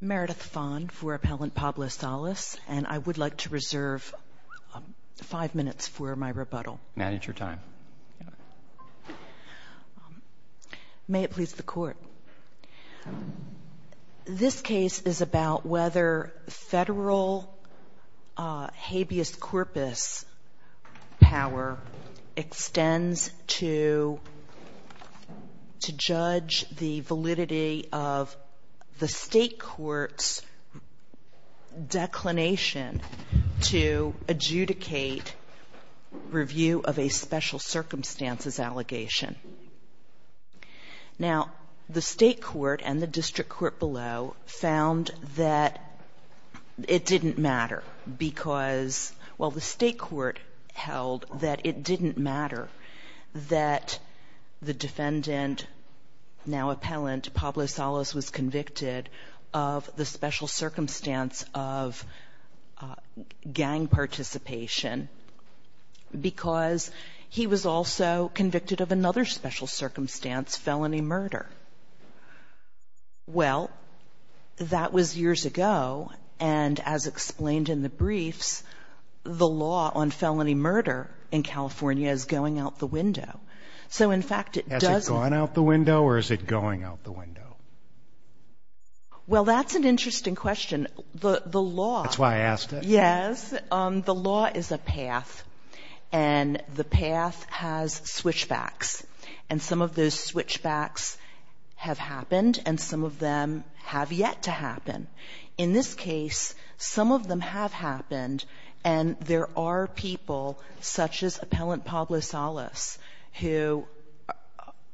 Meredith Fon for Appellant Pablo Salas, and I would like to reserve five minutes for my rebuttal. Maddie, it's your time. May it please the Court. This case is about whether federal habeas corpus power extends to judge the validity of the State Court's declination to adjudicate review of a special circumstances allegation. Now the State Court and the District Court below found that it didn't matter because while the State Court held that it didn't matter that the defendant, now Appellant Pablo Salas, was convicted of the special circumstance of gang participation because he was also convicted of another special circumstance, felony murder. Well, that was years ago, and as explained in the briefs, the law on felony murder in California is going out the window. So in fact it doesn't Has it gone out the window or is it going out the window? Well that's an interesting question. The law That's why I asked it. says the law is a path and the path has switchbacks. And some of those switchbacks have happened and some of them have yet to happen. In this case, some of them have happened, and there are people such as Appellant Pablo Salas who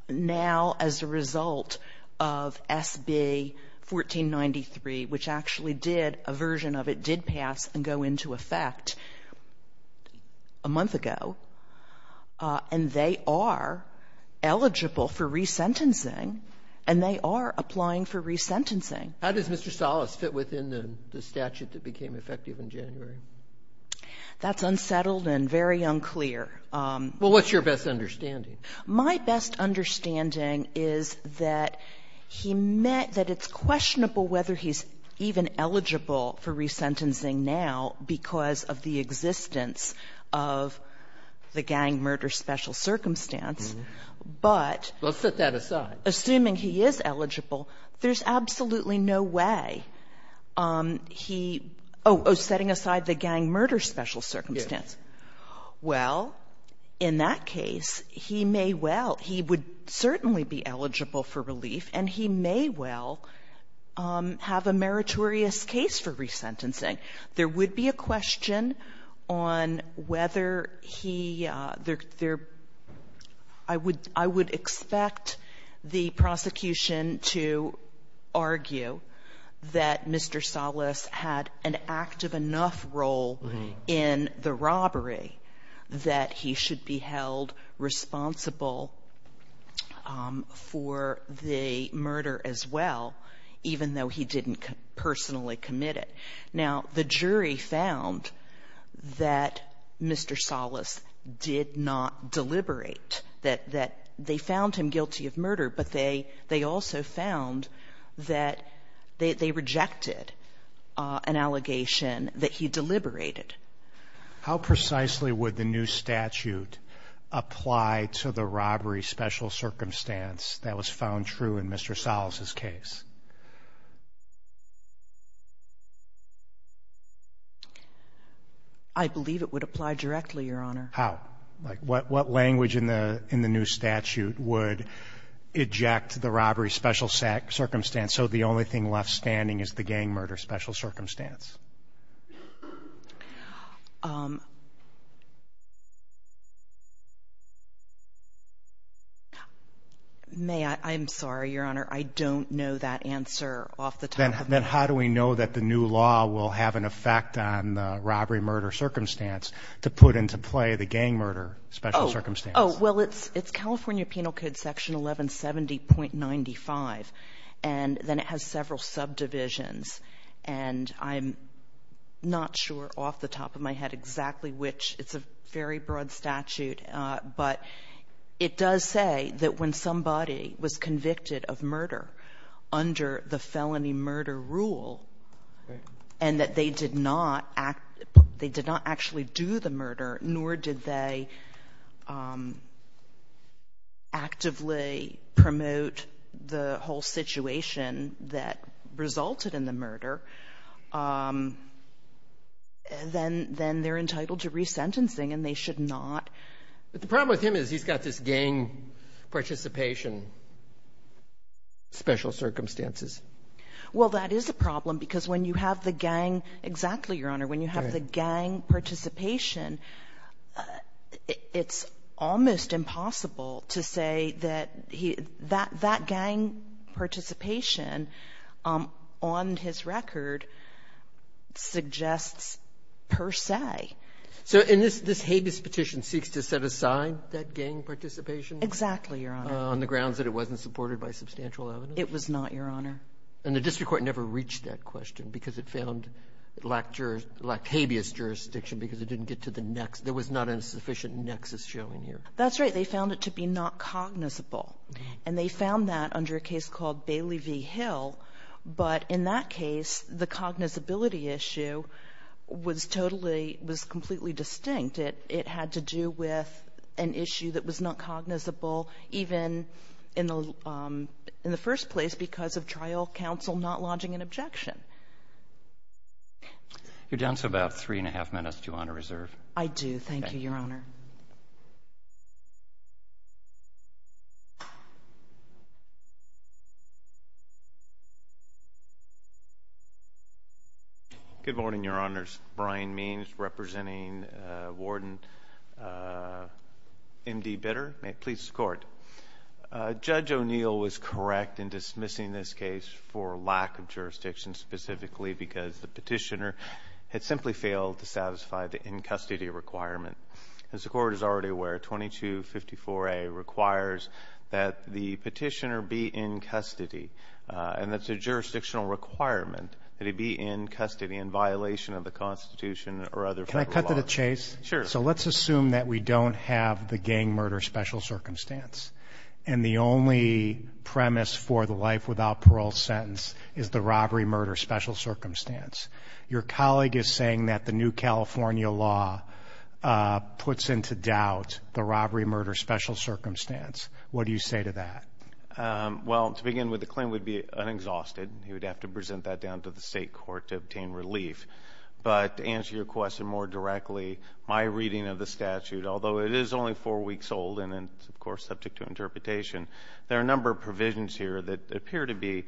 now as a result of SB 1493, which actually did, a version of it did pass and go into effect a month ago, and they are eligible for re-sentencing and they are applying for re-sentencing. How does Mr. Salas fit within the statute that became effective in January? That's unsettled and very unclear. Well, what's your best understanding? My best understanding is that he met that it's questionable whether he's even eligible for re-sentencing now because of the existence of the gang murder special circumstance. But Well, set that aside. Assuming he is eligible, there's absolutely no way he oh, setting aside the gang murder special circumstance. Well, in that case, he may well, he would certainly be eligible for relief, and he may well have a meritorious case for re-sentencing. There would be a question on whether he there I would I would expect the prosecution to argue that Mr. Salas had an active enough role in the robbery that he should be held responsible for the murder as well, even though he didn't personally commit it. Now, the jury found that Mr. Salas did not deliberate that that they found him guilty of murder, but they they also found that they rejected an allegation that he deliberated. How precisely would the new statute apply to the robbery special circumstance that was found true in Mr. Salas's case? I believe it would apply directly, Your Honor. How? What language in the in the new statute would eject the robbery special circumstance and so the only thing left standing is the gang murder special circumstance? May I I'm sorry, Your Honor, I don't know that answer off the top of my head. Then how do we know that the new law will have an effect on the robbery murder circumstance to put into play the gang murder special circumstance? Oh, well, it's it's California Penal Code Section 1170.95. And then it has several subdivisions. And I'm not sure off the top of my head exactly which it's a very broad statute. But it does say that when somebody was convicted of murder under the felony murder rule, and that they did not act they did not actually do the murder, nor did they actively promote the whole situation that resulted in the murder, then then they're entitled to resentencing, and they should not. But the problem with him is he's got this gang participation special circumstances. Well, that is a problem because when you have the gang, exactly, Your Honor, when you have the gang participation, it's almost impossible to say that he that that gang participation on his record suggests per se. So in this this habeas petition seeks to set aside that gang participation? Exactly, Your Honor. On the grounds that it wasn't supported by substantial evidence? It was not, Your Honor. And the district court never reached that question because it found it lacked habeas jurisdiction because it didn't get to the next, there was not a sufficient nexus showing here. That's right. They found it to be not cognizable. And they found that under a case called Bailey v. Hill. But in that case, the cognizability issue was totally, was completely distinct. It had to do with an issue that was not cognizable even in the first place because of trial counsel not lodging an objection. You're down to about three and a half minutes, Your Honor, reserve. I do, thank you, Your Honor. Good morning, Your Honors. Brian Means representing Warden M.D. Bitter. May it please the Court. Judge O'Neill was correct in dismissing this case for lack of jurisdiction specifically because the petitioner had simply failed to satisfy the in-custody requirement. As the Court is already aware, 2254A requires that the petitioner be in custody. And that's a jurisdictional requirement that he be in custody in violation of the Constitution or other federal laws. Can I cut to the chase? Sure. So let's assume that we don't have the gang murder special circumstance. And the only premise for the life without parole sentence is the robbery murder special circumstance. Your colleague is saying that the new California law puts into doubt the robbery murder special circumstance. What do you say to that? Well, to begin with, the claim would be unexhausted. He would have to present that down to the state court to obtain relief. But to answer your question more directly, my reading of the statute, although it is only four weeks old and, of course, subject to interpretation, there are a number of provisions here that appear to be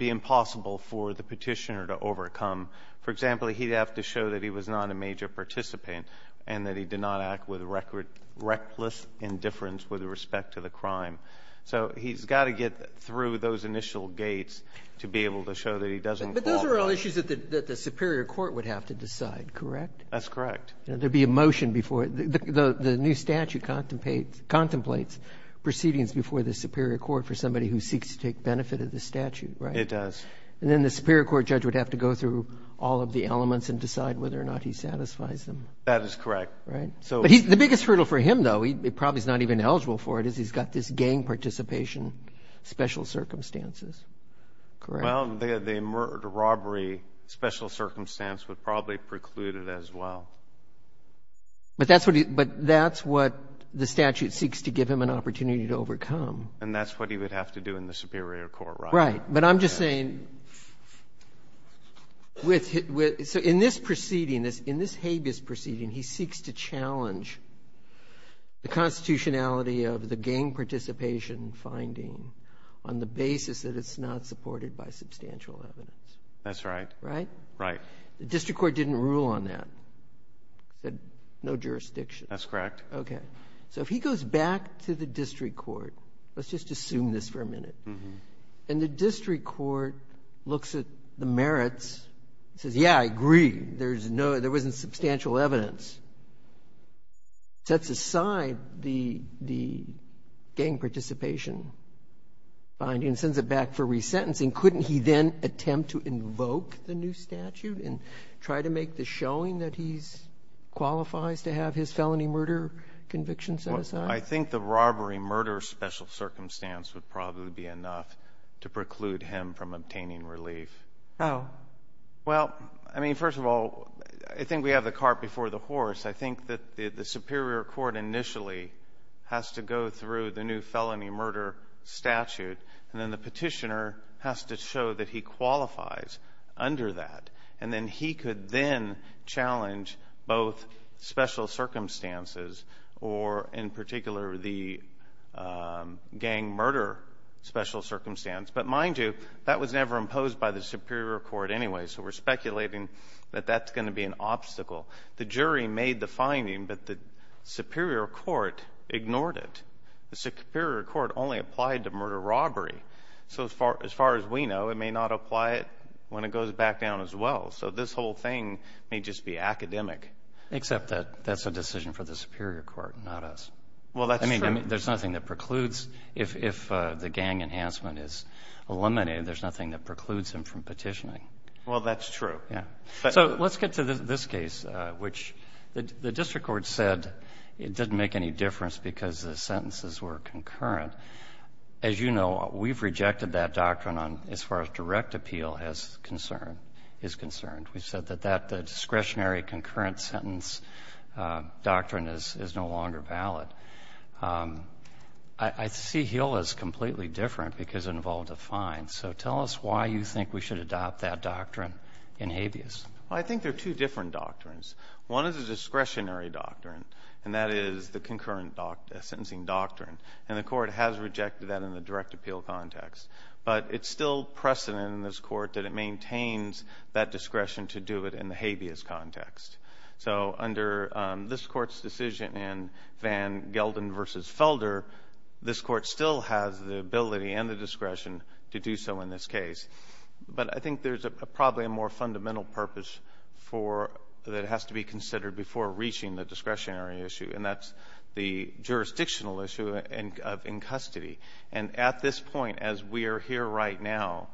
impossible for the petitioner to overcome. For example, he'd have to show that he was not a major participant and that he did not act with reckless indifference with respect to the crime. So he's got to get through those initial gates to be able to show that he doesn't fall. But those are all issues that the Superior Court would have to decide, correct? That's correct. There'd be a motion before the new statute contemplates proceedings before the Superior Court for somebody who seeks to take benefit of the statute, right? It does. And then the Superior Court judge would have to go through all of the elements and decide whether or not he satisfies them. That is correct. Right. So the biggest hurdle for him, though, he probably is not even eligible for it, is he's got this gang participation special circumstances, correct? Well, the robbery special circumstance would probably preclude it as well. But that's what the statute seeks to give him an opportunity to overcome. And that's what he would have to do in the Superior Court, right? Right. But I'm just saying, in this proceeding, in this habeas proceeding, he seeks to challenge the constitutionality of the gang participation finding on the basis that it's not supported by substantial evidence. That's right. Right? Right. The district court didn't rule on that, said no jurisdiction. That's correct. Okay. So if he goes back to the district court, let's just assume this for a minute, and the district court looks at the merits, says, yeah, I agree, there wasn't substantial evidence, sets aside the gang participation finding, sends it back for resentencing, couldn't he then attempt to invoke the new statute and try to make the showing that he qualifies to have his felony murder conviction set aside? I think the robbery murder special circumstance would probably be enough to preclude him from obtaining relief. How? Well, I mean, first of all, I think we have the cart before the horse. I think that the Superior Court initially has to go through the new felony murder statute, and then the petitioner has to show that he qualifies under that. And then he could then challenge both special circumstances or, in particular, the gang murder special circumstance. But mind you, that was never imposed by the Superior Court anyway, so we're speculating that that's going to be an obstacle. The jury made the finding, but the Superior Court ignored it. The Superior Court only applied to murder robbery. So as far as we know, it may not apply it when it goes back down as well. So this whole thing may just be academic. Except that that's a decision for the Superior Court, not us. Well, that's true. There's nothing that precludes if the gang enhancement is eliminated. There's nothing that precludes him from petitioning. Well, that's true. Yeah. So let's get to this case, which the district court said it didn't make any difference because the sentences were concurrent. As you know, we've rejected that doctrine as far as direct appeal is concerned. We've said that that discretionary concurrent sentence doctrine is no longer valid. I see Heal as completely different because it involved a fine. So tell us why you think we should adopt that doctrine in habeas. Well, I think there are two different doctrines. One is a discretionary doctrine, and that is the concurrent sentencing doctrine. And the court has rejected that in the direct appeal context. But it's still precedent in this court that it maintains that discretion to do it in the habeas context. So under this court's decision in Van Gelden versus Felder, this court still has the ability and the discretion to do so in this case. But I think there's probably a more fundamental purpose that has to be considered before reaching the discretionary issue. And that's the jurisdictional issue of in custody. And at this point, as we are here right now,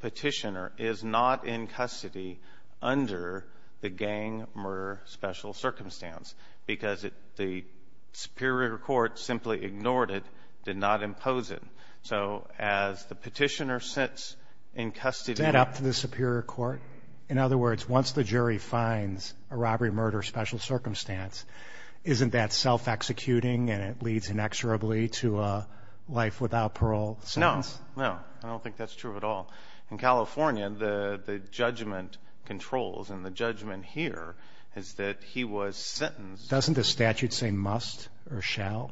petitioner is not in custody under the gang murder special circumstance because the superior court simply ignored it, did not impose it. So as the petitioner sits in custody. Is that up to the superior court? In other words, once the jury finds a robbery murder special circumstance, isn't that self-executing and it leads inexorably to a life without parole? No, no, I don't think that's true at all. In California, the judgment controls and the judgment here is that he was sentenced. Doesn't the statute say must or shall?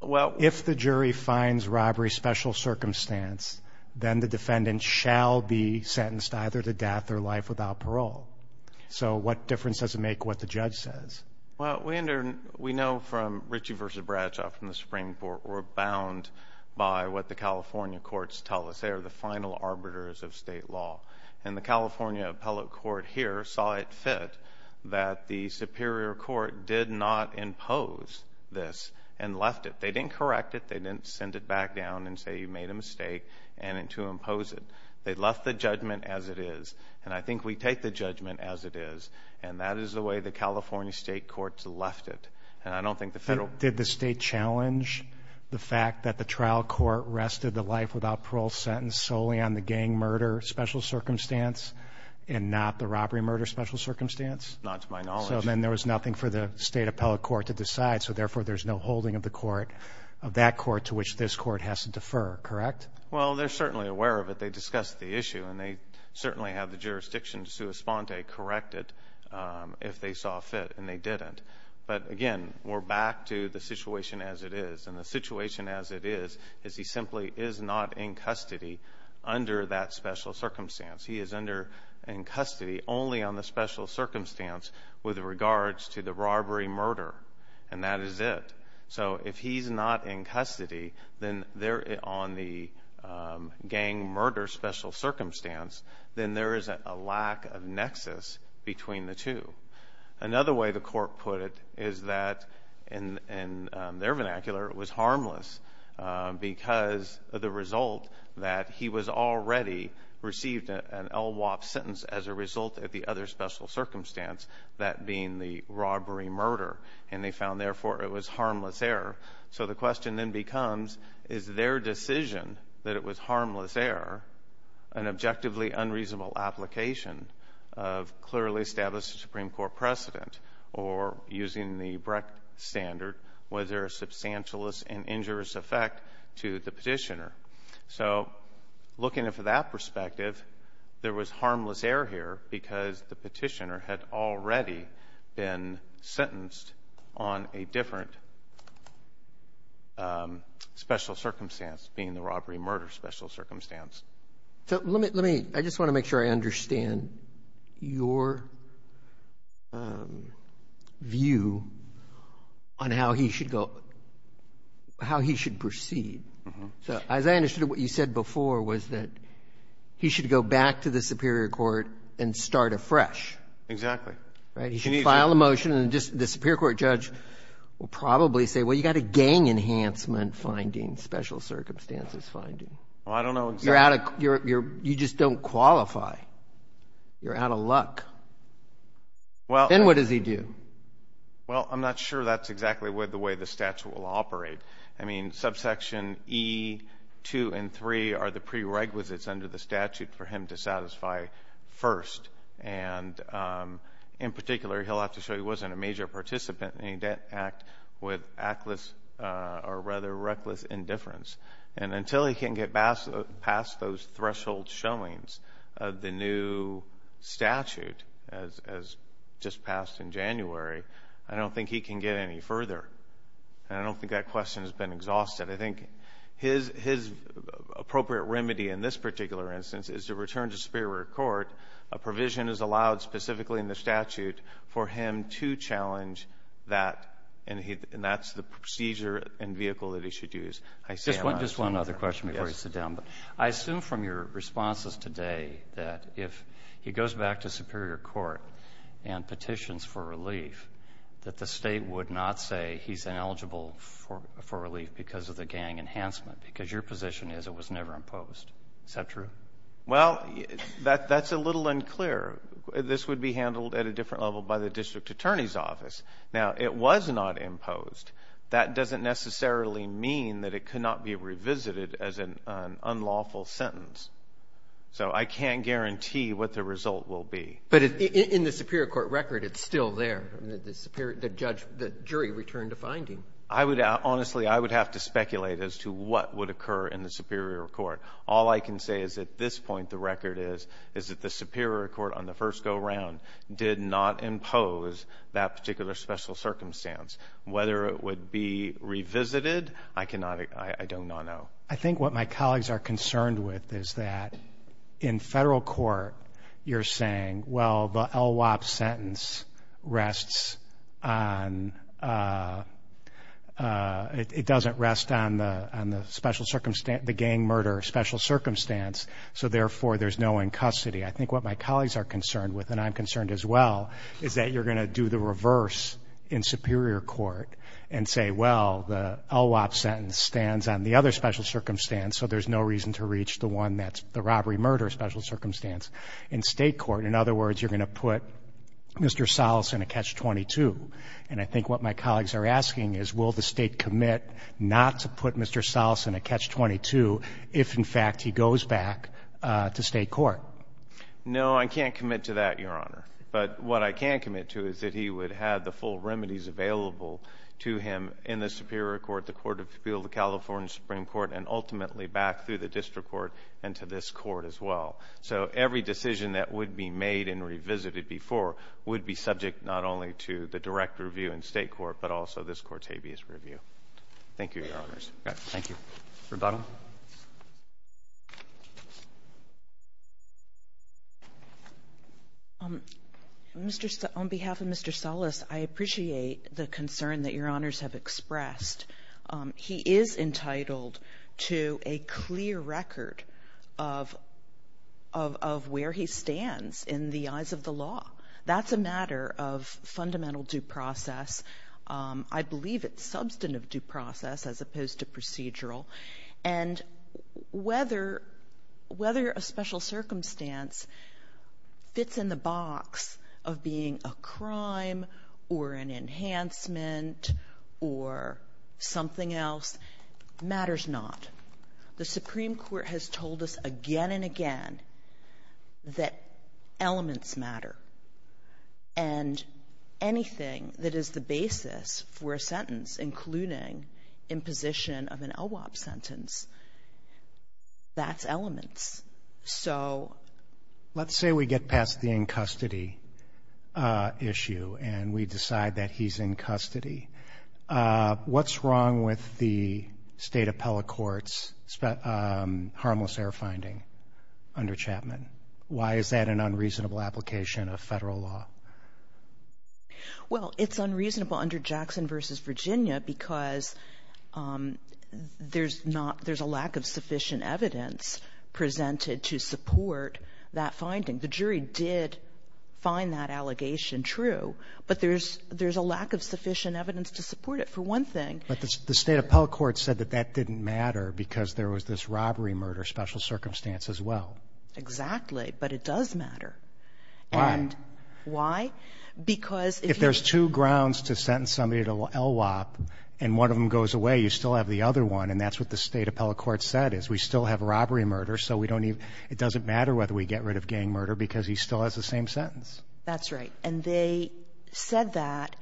Well, if the jury finds robbery special circumstance, then the defendant shall be sentenced either to death or life without parole. So what difference does it make what the judge says? Well, we know from Ritchie versus Bradshaw from the Supreme Court, we're bound by what the California courts tell us. They are the final arbiters of state law. And the California appellate court here saw it fit that the superior court did not impose this and left it. They didn't correct it. They didn't send it back down and say you made a mistake and to impose it. They left the judgment as it is. And I think we take the judgment as it is. And that is the way the California state courts left it. And I don't think the federal. Did the state challenge the fact that the trial court rested the life without parole sentence solely on the gang murder special circumstance and not the robbery murder special circumstance? Not to my knowledge. So then there was nothing for the state appellate court to decide. So therefore, there's no holding of the court, of that court to which this court has to defer, correct? Well, they're certainly aware of it. They discussed the issue. And they certainly have the jurisdiction to correct it if they saw fit. And they didn't. But again, we're back to the situation as it is. And the situation as it is, is he simply is not in custody under that special circumstance. He is under in custody only on the special circumstance with regards to the robbery murder. And that is it. So if he's not in custody, then there on the gang murder special circumstance, then there is a lack of nexus between the two. Another way the court put it is that, in their vernacular, it was harmless because of the result that he was already received an LWOP sentence as a result of the other special circumstance, that being the robbery murder. And they found, therefore, it was harmless error. So the question then becomes, is their decision that it was harmless error, an objectively unreasonable application of clearly established Supreme Court precedent? Or using the Brecht standard, was there a substantialist and injurious effect to the petitioner? So looking at it from that perspective, there was harmless error here because the petitioner had already been sentenced on a different special circumstance, being the robbery murder special circumstance. So let me, I just want to make sure I understand your view on how he should go, how he should proceed. So as I understood it, what you said before was that he should go back to the Superior Court and start afresh. Exactly. Right, he should file a motion, and the Superior Court judge will probably say, well, you got a gang enhancement finding, special circumstances finding. Well, I don't know exactly. You just don't qualify. You're out of luck. Well- Then what does he do? Well, I'm not sure that's exactly the way the statute will operate. I mean, subsection E, 2 and 3 are the prerequisites under the statute for him to satisfy first, and in particular, he'll have to show he wasn't a major participant in any debt act with reckless indifference. And until he can get past those threshold showings of the new statute as just passed in January, I don't think he can get any further. And I don't think that question has been exhausted. I think his appropriate remedy in this particular instance is to return to Superior Court, a provision is allowed specifically in the statute for him to challenge that, and that's the procedure and vehicle that he should use. Just one other question before you sit down. I assume from your responses today that if he goes back to Superior Court and petitions for relief, that the state would not say he's ineligible for relief because of the gang enhancement, because your position is it was never imposed, is that true? Well, that's a little unclear. This would be handled at a different level by the district attorney's office. Now, it was not imposed. That doesn't necessarily mean that it could not be revisited as an unlawful sentence. So I can't guarantee what the result will be. But in the Superior Court record, it's still there, the jury returned a finding. Honestly, I would have to speculate as to what would occur in the Superior Court. All I can say is at this point, the record is, is that the Superior Court on the first go around did not impose that particular special circumstance. Whether it would be revisited, I cannot, I do not know. I think what my colleagues are concerned with is that in federal court, you're saying, well, the LWOP sentence rests on, it doesn't rest on the special circumstance, the gang murder special circumstance, so therefore, there's no one in custody. I think what my colleagues are concerned with, and I'm concerned as well, is that you're going to do the reverse in Superior Court and say, well, the LWOP sentence stands on the other special circumstance, so there's no reason to reach the one that's the robbery murder special circumstance. In state court, in other words, you're going to put Mr. Salas in a catch-22. And I think what my colleagues are asking is, will the state commit not to put Mr. Salas in a catch-22 if, in fact, he goes back to state court? No, I can't commit to that, Your Honor. But what I can commit to is that he would have the full remedies available to him in the Superior Court, the Court of Appeal, the California Supreme Court, and ultimately back through the district court and to this court as well. So every decision that would be made and revisited before would be subject not only to the direct review in state court, but also this court's habeas review. Thank you, Your Honors. Thank you. Rebuttal. On behalf of Mr. Salas, I appreciate the concern that Your Honors have expressed. He is entitled to a clear record of where he stands in the eyes of the law. That's a matter of fundamental due process. I believe it's substantive due process as opposed to procedural. And whether a special circumstance fits in the box of being a crime or an enhancement or something else matters not. The Supreme Court has told us again and again that elements matter. And anything that is the basis for a sentence, including imposition of an LWOP sentence, that's elements. So- Let's say we get past the in custody issue and we decide that he's in custody. What's wrong with the state appellate court's harmless error finding under Chapman? Why is that an unreasonable application of federal law? Well, it's unreasonable under Jackson v. Virginia because there's a lack of sufficient evidence presented to support that finding. The jury did find that allegation true. But there's a lack of sufficient evidence to support it, for one thing. But the state appellate court said that that didn't matter because there was this robbery murder special circumstance as well. Exactly, but it does matter. And- Why? Because- If there's two grounds to sentence somebody to LWOP and one of them goes away, you still have the other one. And that's what the state appellate court said is we still have robbery murder. So it doesn't matter whether we get rid of gang murder because he still has the same sentence. That's right. And they said that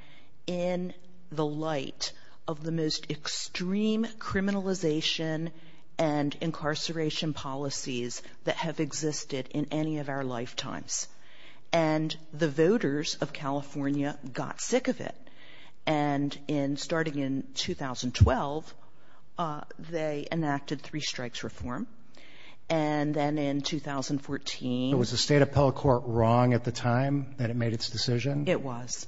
in the light of the most extreme criminalization and incarceration policies that have existed in any of our lifetimes. And the voters of California got sick of it. And in starting in 2012, they enacted three strikes reform. And then in 2014- Was the state appellate court wrong at the time that it made its decision? It was.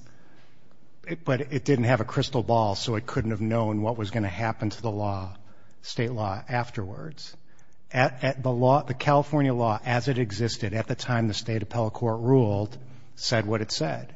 But it didn't have a crystal ball, so it couldn't have known what was going to happen to the law, state law, afterwards. At the law, the California law as it existed at the time the state appellate court ruled said what it said.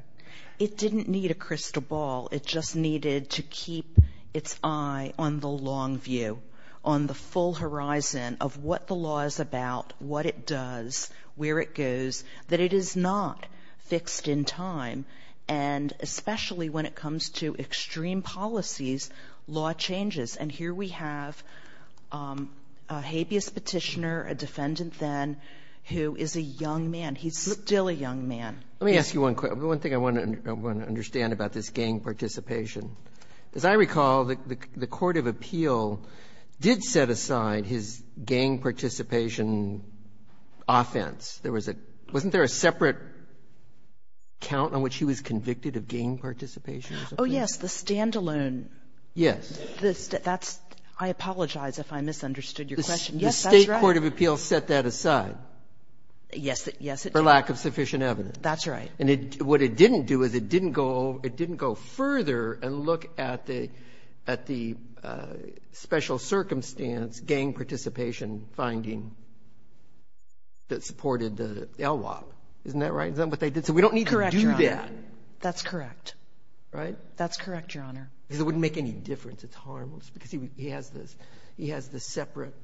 It didn't need a crystal ball. It just needed to keep its eye on the long view, on the full horizon of what the law is about, what it does, where it goes, that it is not fixed in time. And especially when it comes to extreme policies, law changes. And here we have a habeas petitioner, a defendant then, who is a young man. He's still a young man. Let me ask you one thing I want to understand about this gang participation. As I recall, the court of appeal did set aside his gang participation offense. There was a — wasn't there a separate count on which he was convicted of gang participation as a person? Oh, yes, the stand-alone. Yes. That's — I apologize if I misunderstood your question. Yes, that's right. The state court of appeal set that aside. Yes, it did. For lack of sufficient evidence. That's right. And what it didn't do is it didn't go further and look at the special circumstance gang participation finding that supported the LWOP. Isn't that right? Isn't that what they did? So we don't need to do that. Correct, Your Honor. That's correct. Right? That's correct, Your Honor. Because it wouldn't make any difference. It's harmless. Because he has this separate felony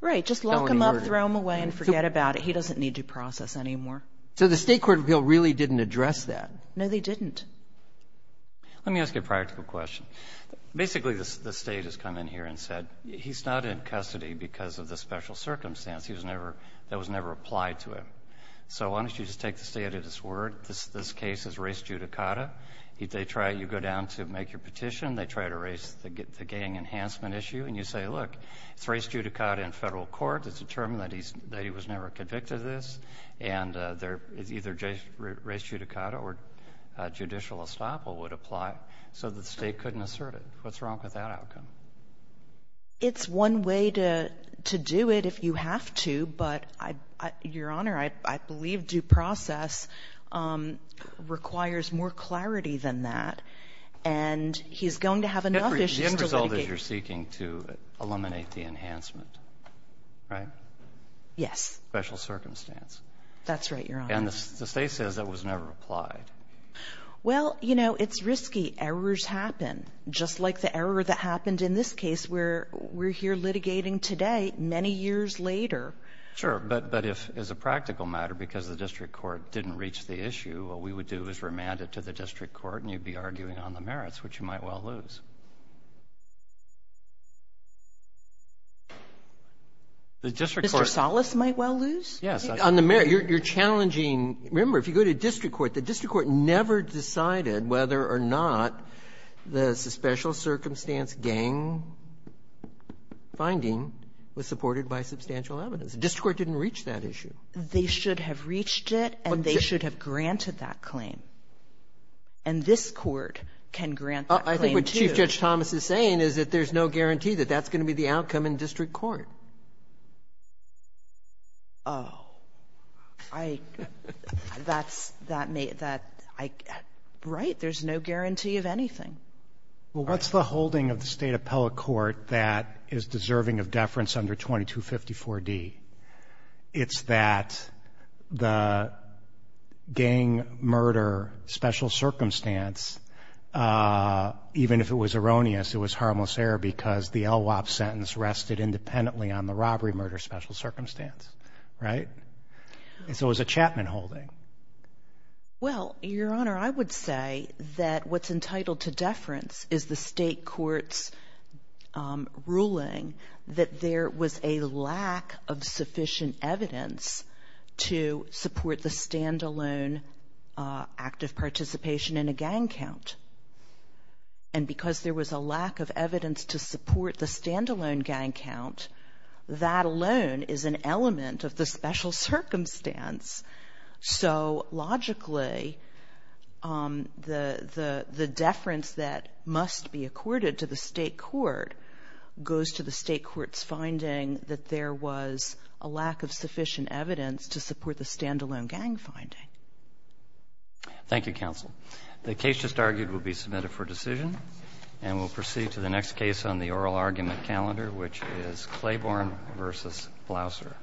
murder. Right. Just lock him up, throw him away, and forget about it. He doesn't need to process anymore. So the state court of appeal really didn't address that? No, they didn't. Let me ask you a practical question. Basically, the state has come in here and said he's not in custody because of the special circumstance. He was never — that was never applied to him. So why don't you just take the state at its word? This case is race judicata. They try — you go down to make your petition. They try to erase the gang enhancement issue, and you say, look, it's race judicata in federal court. It's determined that he was never convicted of this. And either race judicata or judicial estoppel would apply so that the state couldn't assert it. What's wrong with that outcome? It's one way to do it if you have to, but, Your Honor, I believe due process requires more clarity than that. And he's going to have enough issues to litigate — The end result is you're seeking to eliminate the enhancement, right? Yes. Because of the special circumstance. That's right, Your Honor. And the state says that was never applied. Well, you know, it's risky. Errors happen, just like the error that happened in this case where we're here litigating today many years later. Sure. But if, as a practical matter, because the district court didn't reach the issue, what we would do is remand it to the district court, and you'd be arguing on the merits, which you might well lose. The district court — Yes. On the merits, you're challenging — remember, if you go to district court, the district court never decided whether or not the special circumstance gang finding was supported by substantial evidence. The district court didn't reach that issue. They should have reached it, and they should have granted that claim. And this Court can grant that claim, too. I think what Chief Judge Thomas is saying is that there's no guarantee that that's going to be the outcome in district court. Oh, I — that's — that may — that — right, there's no guarantee of anything. Well, what's the holding of the State Appellate Court that is deserving of deference under 2254D? It's that the gang murder special circumstance, even if it was erroneous, it was harmless error because the LWOP sentence rested independently on the robbery murder special circumstance, right? And so it was a Chapman holding. Well, Your Honor, I would say that what's entitled to deference is the State Court's ruling that there was a lack of sufficient evidence to support the standalone act of participation in a gang count. And because there was a lack of evidence to support the standalone gang count, that alone is an element of the special circumstance. So, logically, the deference that must be accorded to the State Court goes to the State Court's finding that there was a lack of sufficient evidence to support the standalone gang finding. Thank you, Counsel. The case just argued will be submitted for decision, and we'll proceed to the next case on the oral argument calendar, which is Claiborne v. Blouser.